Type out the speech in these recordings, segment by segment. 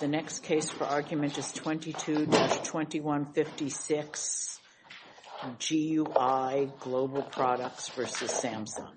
The next case for argument is 22-2156, GUI Global Products v. Samsung.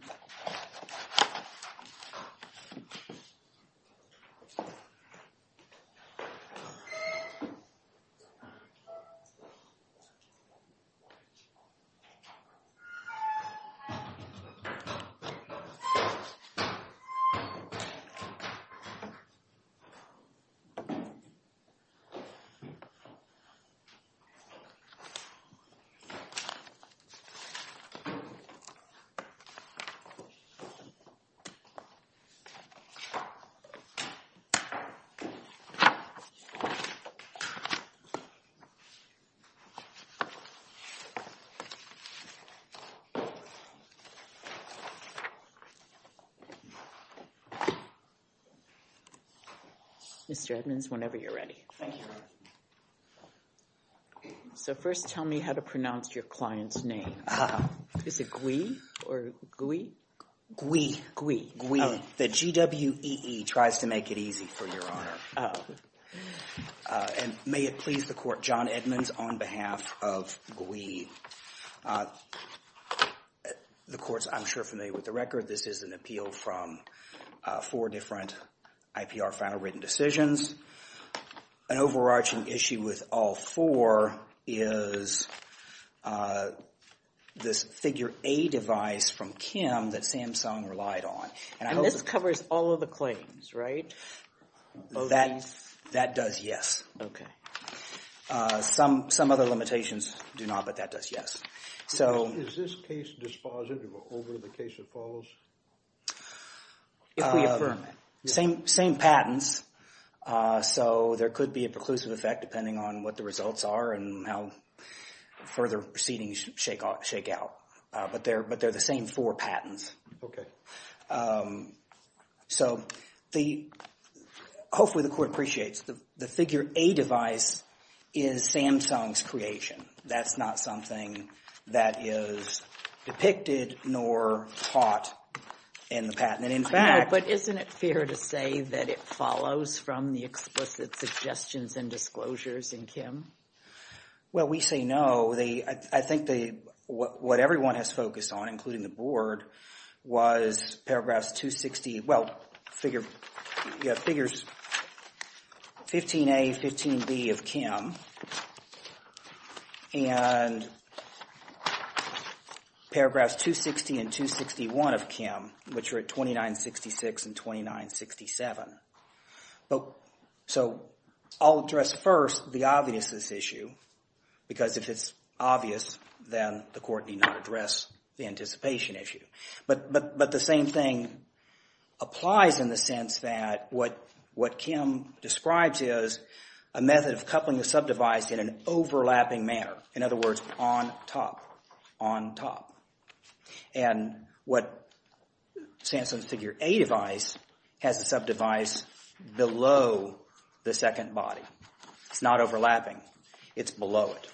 Mr. Administrator, good morning. Thank you. So first tell me how to pronounce your client's name. Is it GUI or GUI? GUI. GUI. GUI. The GWEE tries to make it easy for Your Honor. And may it please the Court, John Edmonds on behalf of GUI. The Court's, I'm sure, familiar with the record. This is an appeal from four different IPR final written decisions. An overarching issue with all four is this figure A device from Kim that Samsung relied on. And this covers all of the claims, right? That does, yes. Some other limitations do not, but that does, yes. Is this case dispositive over the case that follows? If we affirm it. Same patents, so there could be a preclusive effect depending on what the results are and how further proceedings shake out. But they're the same four patents. Okay. So hopefully the Court appreciates the figure A device is Samsung's creation. That's not something that is depicted nor taught in the patent. But isn't it fair to say that it follows from the explicit suggestions and disclosures in Kim? Well, we say no. I think what everyone has focused on, including the Board, was paragraphs 260. Well, you have figures 15A, 15B of Kim. And paragraphs 260 and 261 of Kim, which are at 2966 and 2967. So I'll address first the obviousness issue. Because if it's obvious, then the Court need not address the anticipation issue. But the same thing applies in the sense that what Kim describes is a method of coupling the sub-device in an overlapping manner. In other words, on top, on top. And what Samsung's figure A device has the sub-device below the second body. It's not overlapping. It's below it.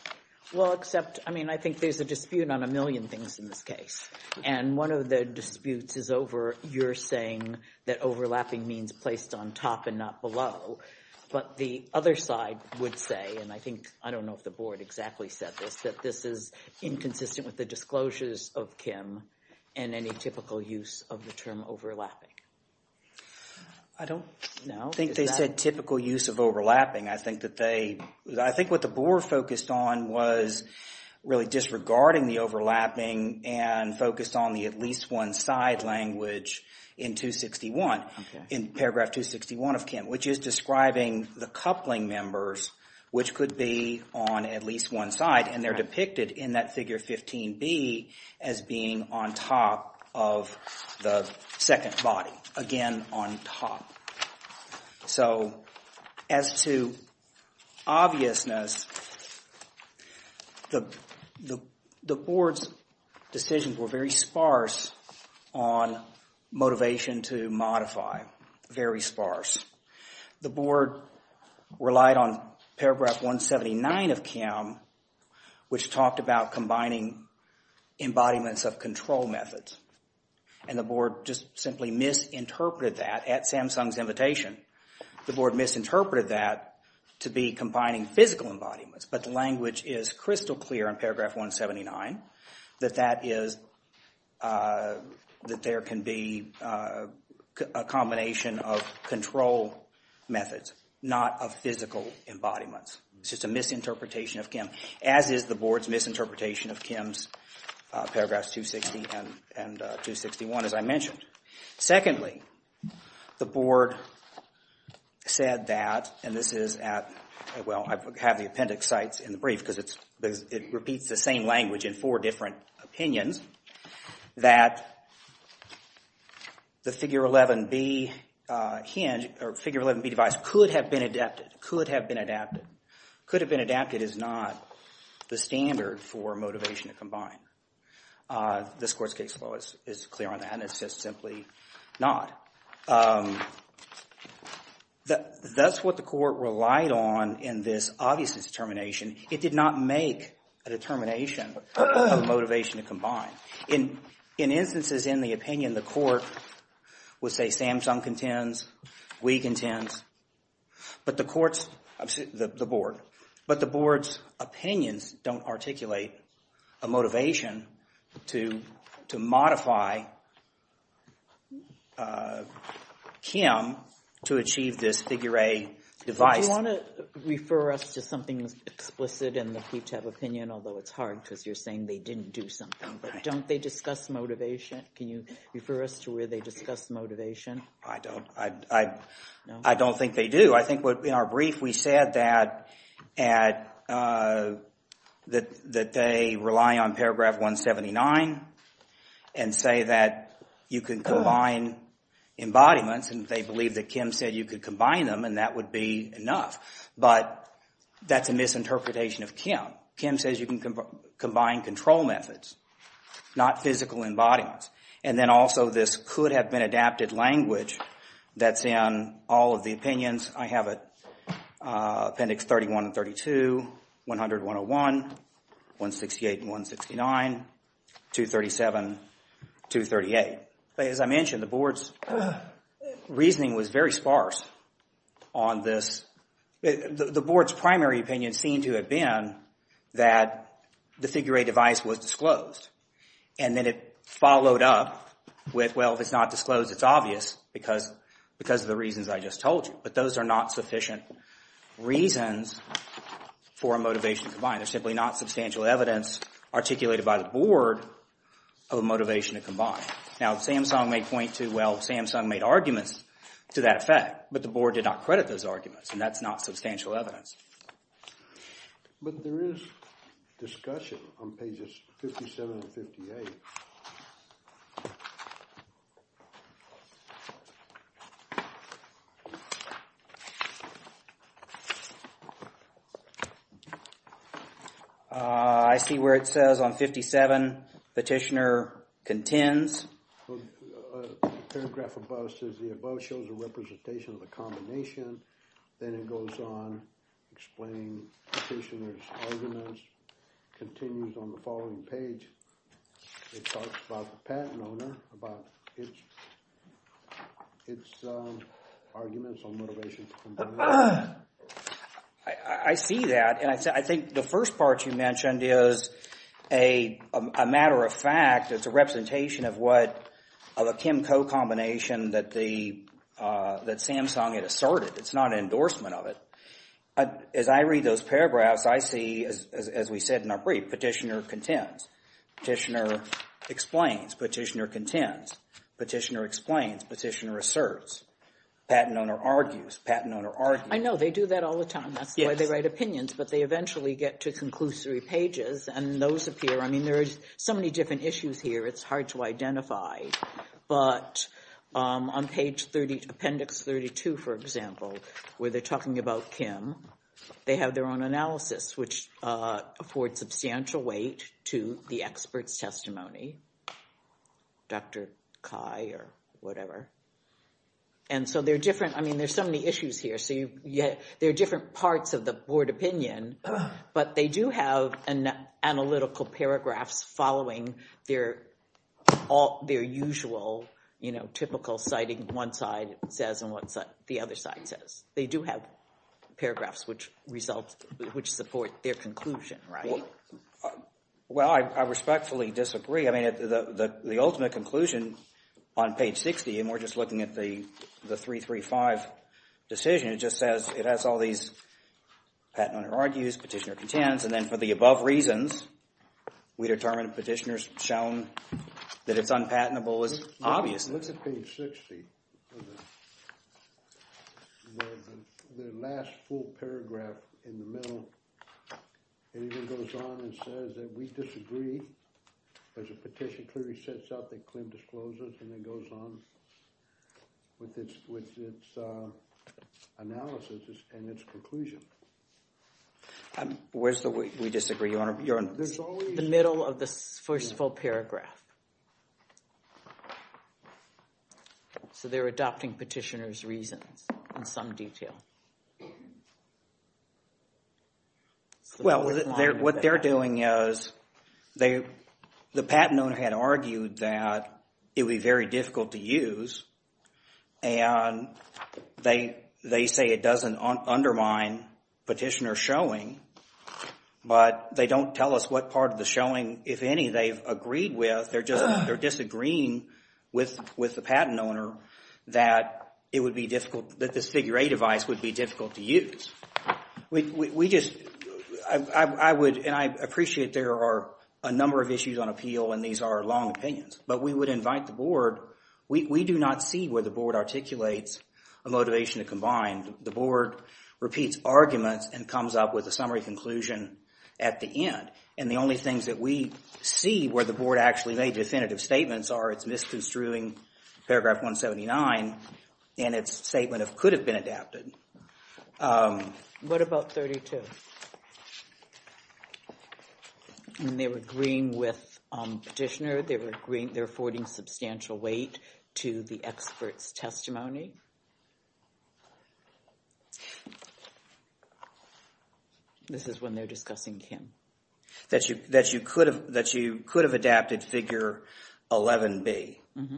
Well, except, I mean, I think there's a dispute on a million things in this case. And one of the disputes is over your saying that overlapping means placed on top and not below. But the other side would say, and I think, I don't know if the Board exactly said this, that this is inconsistent with the disclosures of Kim and any typical use of the term overlapping. I don't think they said typical use of overlapping. I think that they, I think what the Board focused on was really disregarding the overlapping and focused on the at least one side language in 261, in paragraph 261 of Kim, which is describing the coupling members, which could be on at least one side. And they're depicted in that figure 15B as being on top of the second body. Again, on top. So as to obviousness, the Board's decisions were very sparse on motivation to modify. Very sparse. The Board relied on paragraph 179 of Kim, which talked about combining embodiments of control methods. And the Board just simply misinterpreted that at Samsung's invitation. The Board misinterpreted that to be combining physical embodiments. But the language is crystal clear in paragraph 179 that that is, that there can be a combination of control methods, not of physical embodiments. It's just a misinterpretation of Kim, as is the Board's misinterpretation of Kim's paragraphs 260 and 261, as I mentioned. Secondly, the Board said that, and this is at, well, I have the appendix sites in the brief, because it repeats the same language in four different opinions, that the figure 11B hinge or figure 11B device could have been adapted, could have been adapted. Could have been adapted is not the standard for motivation to combine. This Court's case law is clear on that, and it says simply not. That's what the Court relied on in this obviousness determination. It did not make a determination of motivation to combine. In instances in the opinion, the Court would say Samsung contends, we contend, but the Court's, the Board. But the Board's opinions don't articulate a motivation to modify Kim to achieve this figure A device. Do you want to refer us to something explicit in the QTAP opinion? Although it's hard because you're saying they didn't do something. But don't they discuss motivation? Can you refer us to where they discuss motivation? I don't. I don't think they do. I think in our brief we said that they rely on paragraph 179 and say that you can combine embodiments, and they believe that Kim said you could combine them and that would be enough. But that's a misinterpretation of Kim. Kim says you can combine control methods, not physical embodiments. And then also this could have been adapted language that's in all of the opinions. I have appendix 31 and 32, 100, 101, 168 and 169, 237, 238. As I mentioned, the Board's reasoning was very sparse on this. The Board's primary opinion seemed to have been that the figure A device was disclosed. And then it followed up with, well, if it's not disclosed, it's obvious because of the reasons I just told you. But those are not sufficient reasons for a motivation to combine. There's simply not substantial evidence articulated by the Board of a motivation to combine. Now, Samsung may point to, well, Samsung made arguments to that effect, but the Board did not credit those arguments, and that's not substantial evidence. But there is discussion on pages 57 and 58. I see where it says on 57, petitioner contends. Paragraph above says the above shows a representation of the combination. Then it goes on explaining petitioner's arguments, continues on the following page. It talks about the patent owner, about its arguments on motivation to combine. I see that, and I think the first part you mentioned is a matter of fact. It's a representation of a Kim-Co combination that Samsung had asserted. It's not an endorsement of it. As I read those paragraphs, I see, as we said in our brief, petitioner contends. Petitioner explains. Petitioner contends. Petitioner explains. Petitioner asserts. Patent owner argues. Patent owner argues. I know. They do that all the time. That's why they write opinions, but they eventually get to conclusory pages, and those appear. I mean, there are so many different issues here, it's hard to identify. But on page 30, appendix 32, for example, where they're talking about Kim, they have their own analysis, which affords substantial weight to the expert's testimony, Dr. Cai or whatever. And so they're different. I mean, there's so many issues here. So there are different parts of the board opinion, but they do have analytical paragraphs following their usual, you know, typical citing what one side says and what the other side says. They do have paragraphs which support their conclusion, right? Well, I respectfully disagree. I mean, the ultimate conclusion on page 60, and we're just looking at the 335 decision, it just says it has all these patent owner argues, petitioner contends, and then for the above reasons, we determine petitioner's shown that it's unpatentable as obvious. Let's look at page 60. The last full paragraph in the middle, it even goes on and says that we disagree. There's a petition clearly sets out that Clinton discloses and then goes on with its analysis and its conclusion. Where's the we disagree? The middle of the first full paragraph. So they're adopting petitioner's reasons in some detail. Well, what they're doing is the patent owner had argued that it would be very difficult to use, and they say it doesn't undermine petitioner's showing, but they don't tell us what part of the showing, if any, they've agreed with. They're just disagreeing with the patent owner that it would be difficult, that this figure A device would be difficult to use. We just, I would, and I appreciate there are a number of issues on appeal, and these are long opinions, but we would invite the board. We do not see where the board articulates a motivation to combine. The board repeats arguments and comes up with a summary conclusion at the end, and the only things that we see where the board actually made definitive statements are its misconstruing paragraph 179 and its statement of could have been adapted. What about 32? And they were agreeing with petitioner. They're affording substantial weight to the expert's testimony. This is when they're discussing Kim. That you could have adapted figure 11B. Mm-hmm.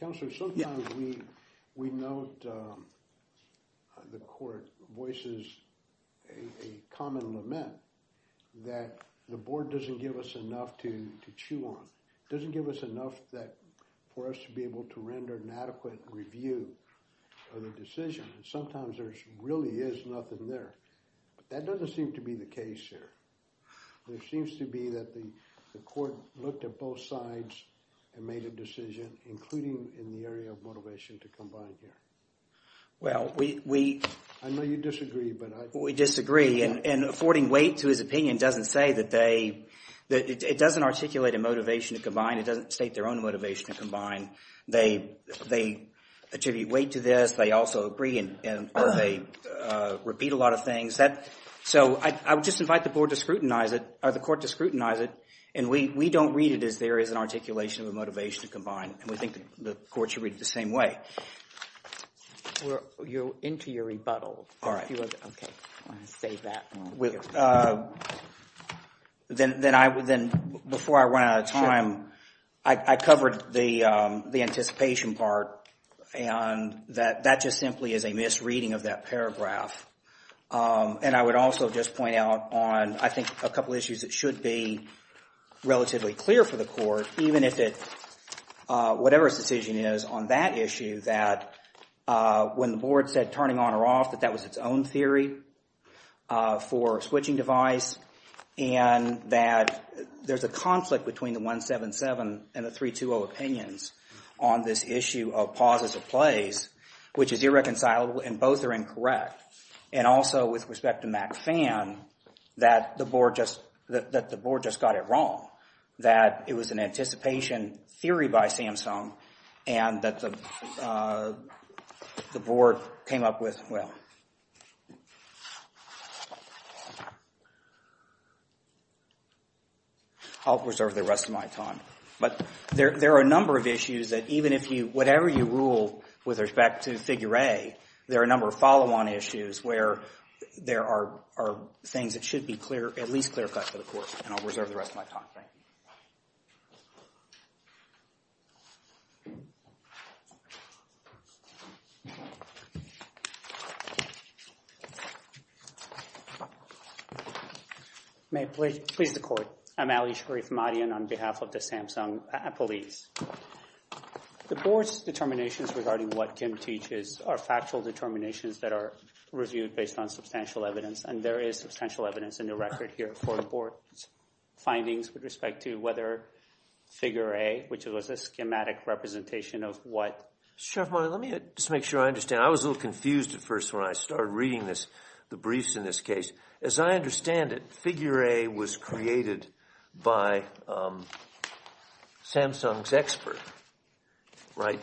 Counselor, sometimes we note the court voices a common lament that the board doesn't give us enough to chew on. It doesn't give us enough for us to be able to render an adequate review of the decision, and sometimes there really is nothing there, but that doesn't seem to be the case here. There seems to be that the court looked at both sides and made a decision, including in the area of motivation to combine here. Well, we— I know you disagree, but I— We disagree, and affording weight to his opinion doesn't say that they— it doesn't articulate a motivation to combine. It doesn't state their own motivation to combine. They attribute weight to this. They also agree, and they repeat a lot of things. So I would just invite the board to scrutinize it, or the court to scrutinize it, and we don't read it as there is an articulation of a motivation to combine, and we think the court should read it the same way. You're into your rebuttal. All right. Okay, I'm going to save that. Then before I run out of time, I covered the anticipation part, and that just simply is a misreading of that paragraph, and I would also just point out on, I think, a couple issues that should be relatively clear for the court, even if it—whatever its decision is on that issue, that when the board said turning on or off, that that was its own theory for switching device, and that there's a conflict between the 177 and the 320 opinions on this issue of pauses of plays, which is irreconcilable, and both are incorrect, and also with respect to MacFan, that the board just got it wrong, that it was an anticipation theory by Samsung, and that the board came up with—well, I'll reserve the rest of my time. But there are a number of issues that even if you— whatever you rule with respect to Figure A, there are a number of follow-on issues where there are things that should be at least clear-cut for the court, and I'll reserve the rest of my time. Thank you. May it please the Court. I'm Ali Sharif Madian on behalf of the Samsung Police. The board's determinations regarding what Kim teaches are factual determinations that are reviewed based on substantial evidence, and there is substantial evidence in the record here for the board's findings with respect to whether Figure A, which was a schematic representation of what— Mr. Sharif Madian, let me just make sure I understand. I was a little confused at first when I started reading this, the briefs in this case. As I understand it, Figure A was created by Samsung's expert, right?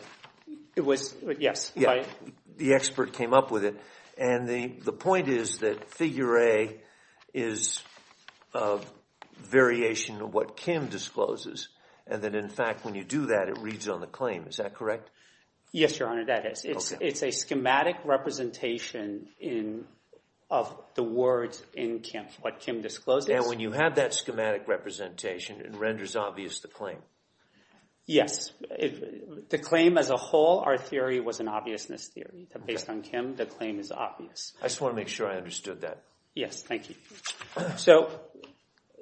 It was, yes. The expert came up with it, and the point is that Figure A is a variation of what Kim discloses, and that in fact when you do that, it reads on the claim. Is that correct? Yes, Your Honor, that is. It's a schematic representation of the words in what Kim discloses. And when you have that schematic representation, it renders obvious the claim. Yes. The claim as a whole, our theory was an obviousness theory. Based on Kim, the claim is obvious. I just want to make sure I understood that. Yes, thank you. So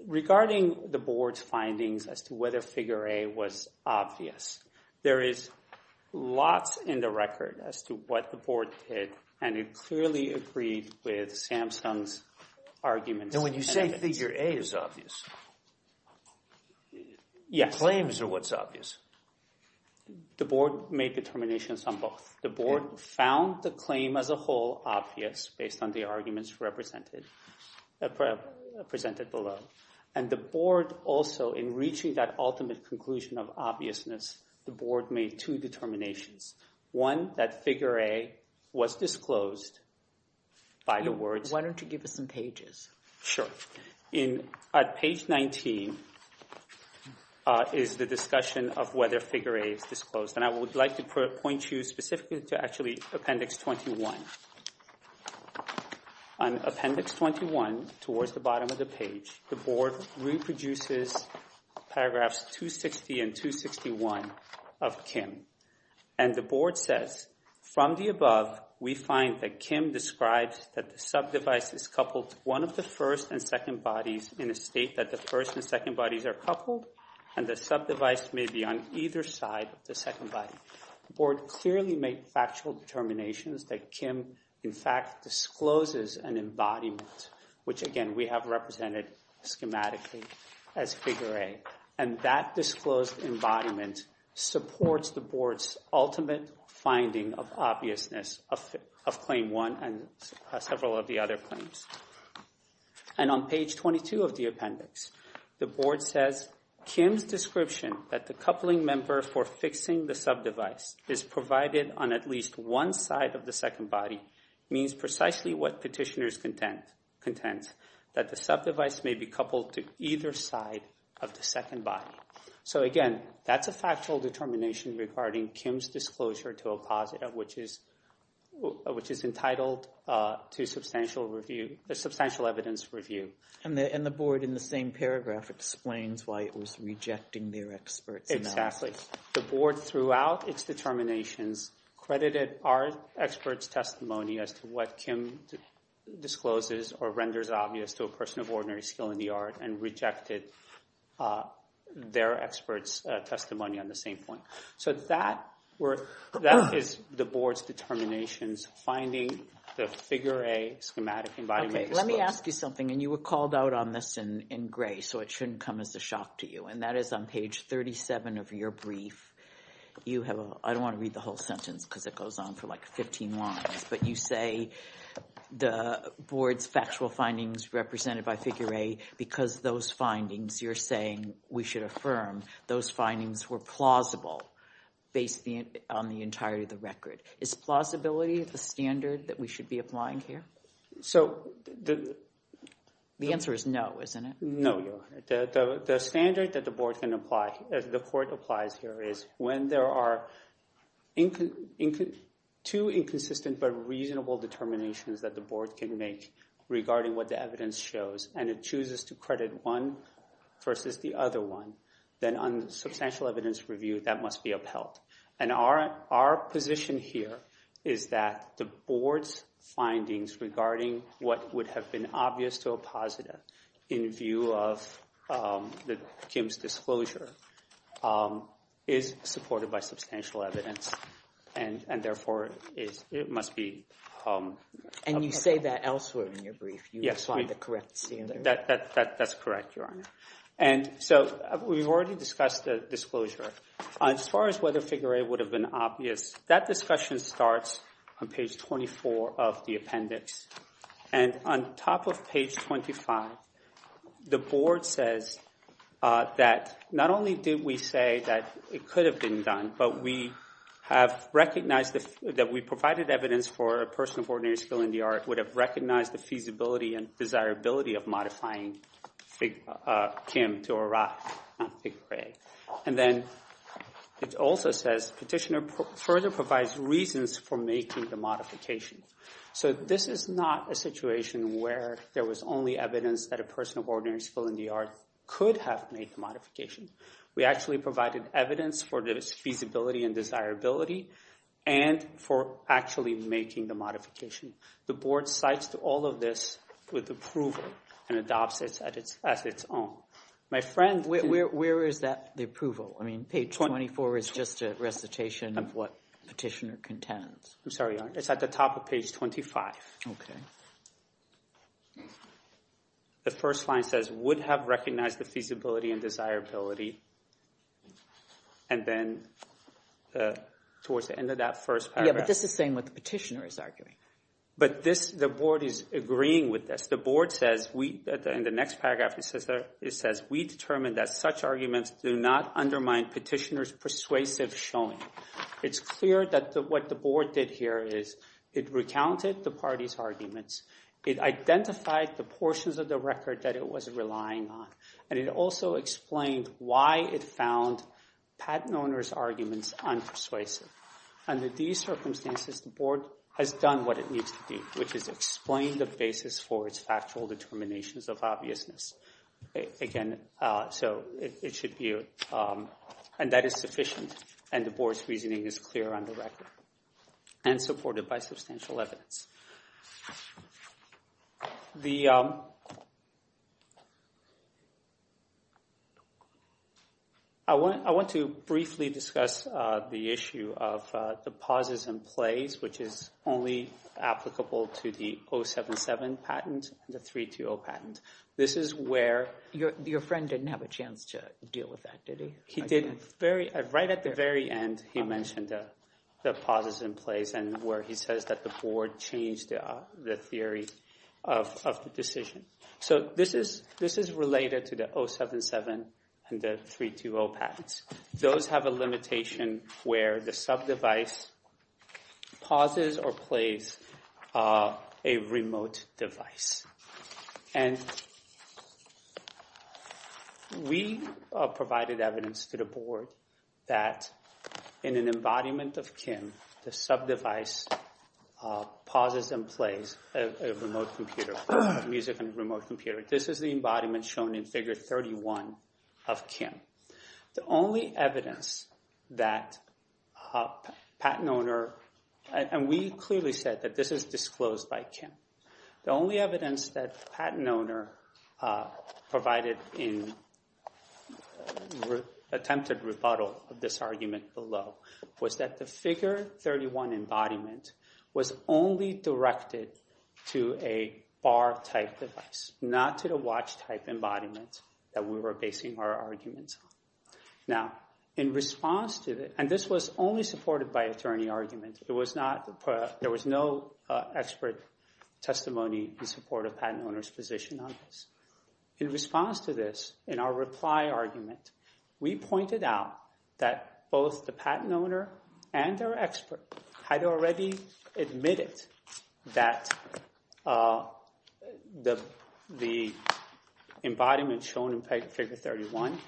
regarding the board's findings as to whether Figure A was obvious, there is lots in the record as to what the board did, and it clearly agreed with Samsung's arguments. Now when you say Figure A is obvious, claims are what's obvious. The board made determinations on both. The board found the claim as a whole obvious based on the arguments presented below, and the board also in reaching that ultimate conclusion of obviousness, the board made two determinations. One, that Figure A was disclosed by the words. Why don't you give us some pages? Sure. At page 19 is the discussion of whether Figure A is disclosed, and I would like to point you specifically to actually Appendix 21. On Appendix 21, towards the bottom of the page, the board reproduces Paragraphs 260 and 261 of Kim, and the board says, From the above, we find that Kim describes that the subdevice is coupled to one of the first and second bodies in a state that the first and second bodies are coupled and the subdevice may be on either side of the second body. The board clearly made factual determinations that Kim in fact discloses an embodiment, which again we have represented schematically as Figure A, and that disclosed embodiment supports the board's ultimate finding of obviousness of Claim 1 and several of the other claims. And on page 22 of the appendix, the board says, Kim's description that the coupling member for fixing the subdevice is provided on at least one side of the second body means precisely what petitioners contend, that the subdevice may be coupled to either side of the second body. So again, that's a factual determination regarding Kim's disclosure to a positive, which is entitled to substantial evidence review. And the board in the same paragraph explains why it was rejecting their expert's analysis. Exactly. The board throughout its determinations credited our expert's testimony as to what Kim discloses or renders obvious to a person of ordinary skill in the art and rejected their expert's testimony on the same point. So that is the board's determinations finding the Figure A schematic embodiment. Let me ask you something, and you were called out on this in gray, so it shouldn't come as a shock to you, and that is on page 37 of your brief. I don't want to read the whole sentence because it goes on for like 15 lines, but you say the board's factual findings represented by Figure A because those findings, you're saying we should affirm those findings were plausible based on the entirety of the record. Is plausibility the standard that we should be applying here? The answer is no, isn't it? No, Your Honor. The standard that the board can apply, the court applies here, is when there are two inconsistent but reasonable determinations that the board can make regarding what the evidence shows and it chooses to credit one versus the other one, and our position here is that the board's findings regarding what would have been obvious to a positive in view of Kim's disclosure is supported by substantial evidence, and therefore it must be. And you say that elsewhere in your brief. You define the correct standard. That's correct, Your Honor. So we've already discussed the disclosure. As far as whether Figure A would have been obvious, that discussion starts on page 24 of the appendix, and on top of page 25, the board says that not only did we say that it could have been done, but we have recognized that we provided evidence for a person of ordinary skill in the art would have recognized the feasibility and desirability of modifying Kim to arrive on Figure A. And then it also says, Petitioner further provides reasons for making the modification. So this is not a situation where there was only evidence that a person of ordinary skill in the art could have made the modification. We actually provided evidence for its feasibility and desirability and for actually making the modification. The board cites all of this with approval and adopts it as its own. My friend— Where is that approval? I mean, page 24 is just a recitation of what Petitioner contends. I'm sorry, Your Honor. It's at the top of page 25. Okay. The first line says would have recognized the feasibility and desirability, and then towards the end of that first paragraph— But the board is agreeing with this. The board says in the next paragraph, it says, we determined that such arguments do not undermine Petitioner's persuasive showing. It's clear that what the board did here is it recounted the party's arguments. It identified the portions of the record that it was relying on, and it also explained why it found patent owner's arguments unpersuasive. Under these circumstances, the board has done what it needs to do, which is explain the basis for its factual determinations of obviousness. Again, so it should be—and that is sufficient, and the board's reasoning is clear on the record and supported by substantial evidence. The—I want to briefly discuss the issue of the pauses and plays, which is only applicable to the 077 patent and the 320 patent. This is where— Your friend didn't have a chance to deal with that, did he? He didn't. Right at the very end, he mentioned the pauses and plays, and where he says that the board changed the theory of the decision. So this is related to the 077 and the 320 patents. Those have a limitation where the sub-device pauses or plays a remote device. We provided evidence to the board that in an embodiment of Kim, the sub-device pauses and plays a remote computer, music and remote computer. This is the embodiment shown in Figure 31 of Kim. The only evidence that a patent owner— and we clearly said that this is disclosed by Kim. The only evidence that a patent owner provided in attempted rebuttal of this argument below was that the Figure 31 embodiment was only directed to a bar-type device, not to the watch-type embodiment that we were basing our arguments on. Now, in response to—and this was only supported by attorney argument. It was not—there was no expert testimony in support of patent owner's position on this. In response to this, in our reply argument, we pointed out that both the patent owner and their expert had already admitted that the embodiment shown in Figure 31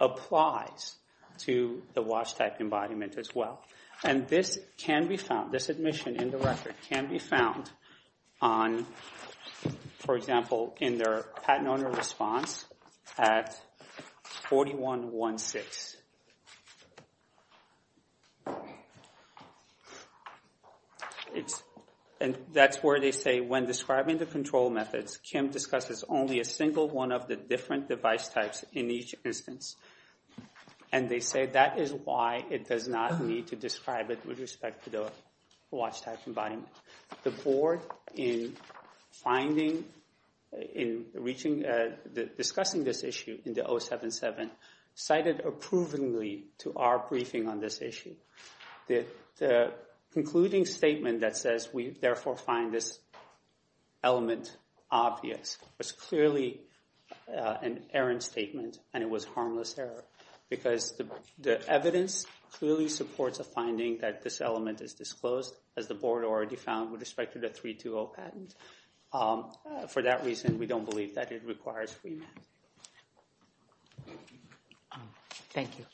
applies to the watch-type embodiment as well. And this can be found—this admission in the record can be found on, for example, in their patent owner response at 4116. And that's where they say, when describing the control methods, Kim discusses only a single one of the different device types in each instance. And they say that is why it does not need to describe it with respect to the watch-type embodiment. The Board, in finding—in reaching—discussing this issue in the 077, cited approvingly to our briefing on this issue. The concluding statement that says we therefore find this element obvious was clearly an errant statement, and it was harmless error, because the evidence clearly supports a finding that this element is disclosed, as the Board already found, with respect to the 320 patent. For that reason, we don't believe that it requires remand. Thank you.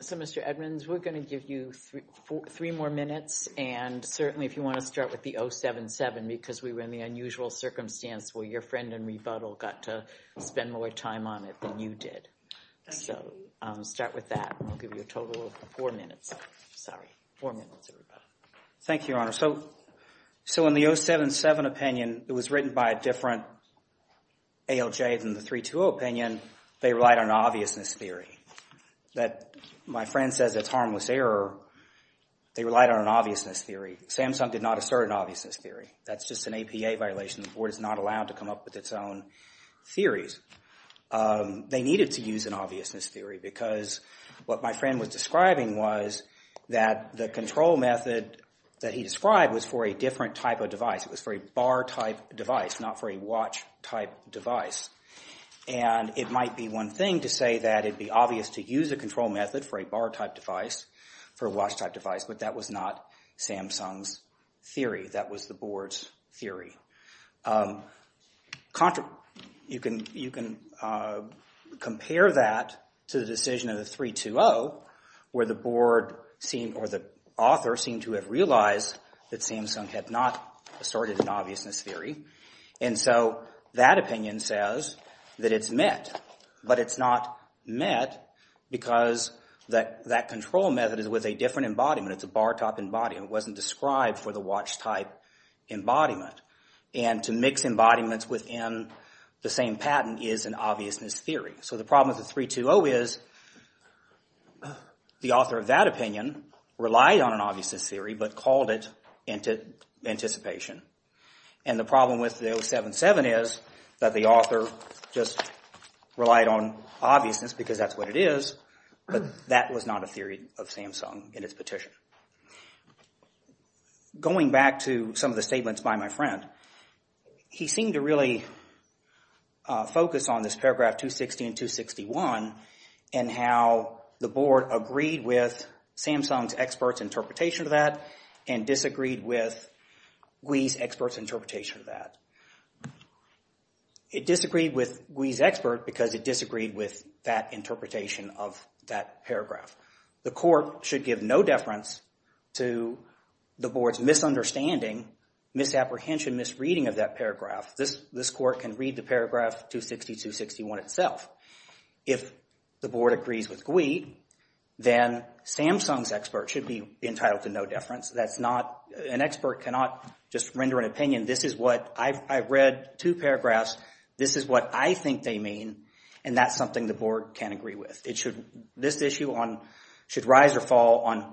So, Mr. Edmonds, we're going to give you three more minutes, and certainly if you want to start with the 077, because we were in the unusual circumstance where your friend in rebuttal got to spend more time on it than you did. So, start with that, and we'll give you a total of four minutes. Sorry. Four minutes, everybody. Thank you, Your Honor. So, in the 077 opinion, it was written by a different ALJ than the 320 opinion. They relied on an obviousness theory. My friend says it's harmless error. They relied on an obviousness theory. Samsung did not assert an obviousness theory. That's just an APA violation. The Board is not allowed to come up with its own theories. They needed to use an obviousness theory because what my friend was describing was that the control method that he described was for a different type of device. It was for a bar-type device, not for a watch-type device. And it might be one thing to say that it'd be obvious to use a control method for a bar-type device, for a watch-type device, but that was not Samsung's theory. That was the Board's theory. You can compare that to the decision of the 320 where the Board or the author seemed to have realized that Samsung had not asserted an obviousness theory. And so that opinion says that it's met, but it's not met because that control method is with a different embodiment. It's a bar-type embodiment. It wasn't described for the watch-type embodiment. And to mix embodiments within the same patent is an obviousness theory. So the problem with the 320 is the author of that opinion relied on an obviousness theory but called it anticipation. And the problem with the 077 is that the author just relied on obviousness because that's what it is, but that was not a theory of Samsung in its petition. Going back to some of the statements by my friend, he seemed to really focus on this paragraph 260 and 261 and how the Board agreed with Samsung's expert's interpretation of that and disagreed with GUI's expert's interpretation of that. It disagreed with GUI's expert because it disagreed with that interpretation of that paragraph. The court should give no deference to the Board's misunderstanding, misapprehension, misreading of that paragraph. This court can read the paragraph 260, 261 itself. If the Board agrees with GUI, then Samsung's expert should be entitled to no deference. That's not an expert cannot just render an opinion. This is what I've read two paragraphs. This is what I think they mean, and that's something the Board can agree with. This issue should rise or fall on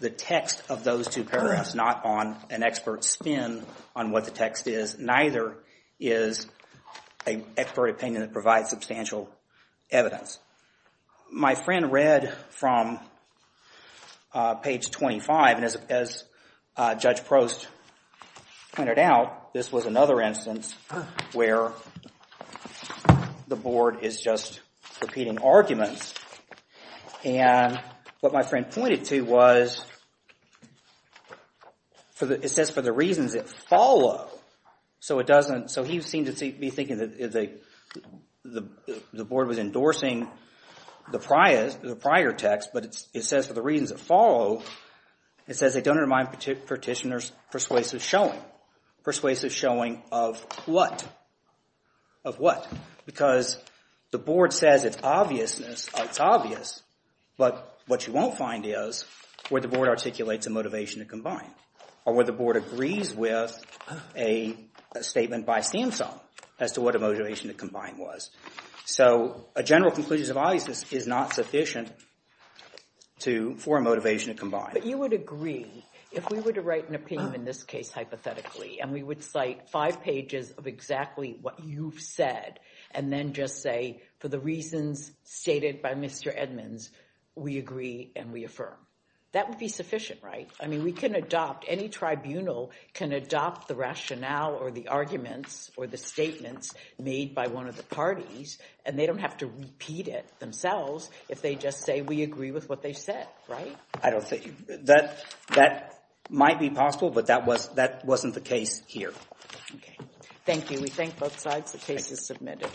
the text of those two paragraphs, not on an expert's spin on what the text is. Neither is an expert opinion that provides substantial evidence. My friend read from page 25, and as Judge Prost pointed out, this was another instance where the Board is just repeating arguments. And what my friend pointed to was it says for the reasons that follow, so he seemed to be thinking that the Board was endorsing the prior text, but it says for the reasons that follow, it says they don't undermine petitioner's persuasive showing. Persuasive showing of what? Of what? Because the Board says it's obvious, but what you won't find is where the Board articulates a motivation to combine or where the Board agrees with a statement by Samsung as to what a motivation to combine was. So a general conclusion of obviousness is not sufficient for a motivation to combine. But you would agree, if we were to write an opinion in this case hypothetically, and we would cite five pages of exactly what you've said, and then just say for the reasons stated by Mr. Edmonds, we agree and we affirm. That would be sufficient, right? I mean, we can adopt, any tribunal can adopt the rationale or the arguments or the statements made by one of the parties, and they don't have to repeat it themselves if they just say we agree with what they said, right? That might be possible, but that wasn't the case here. Thank you. We thank both sides. The case is submitted.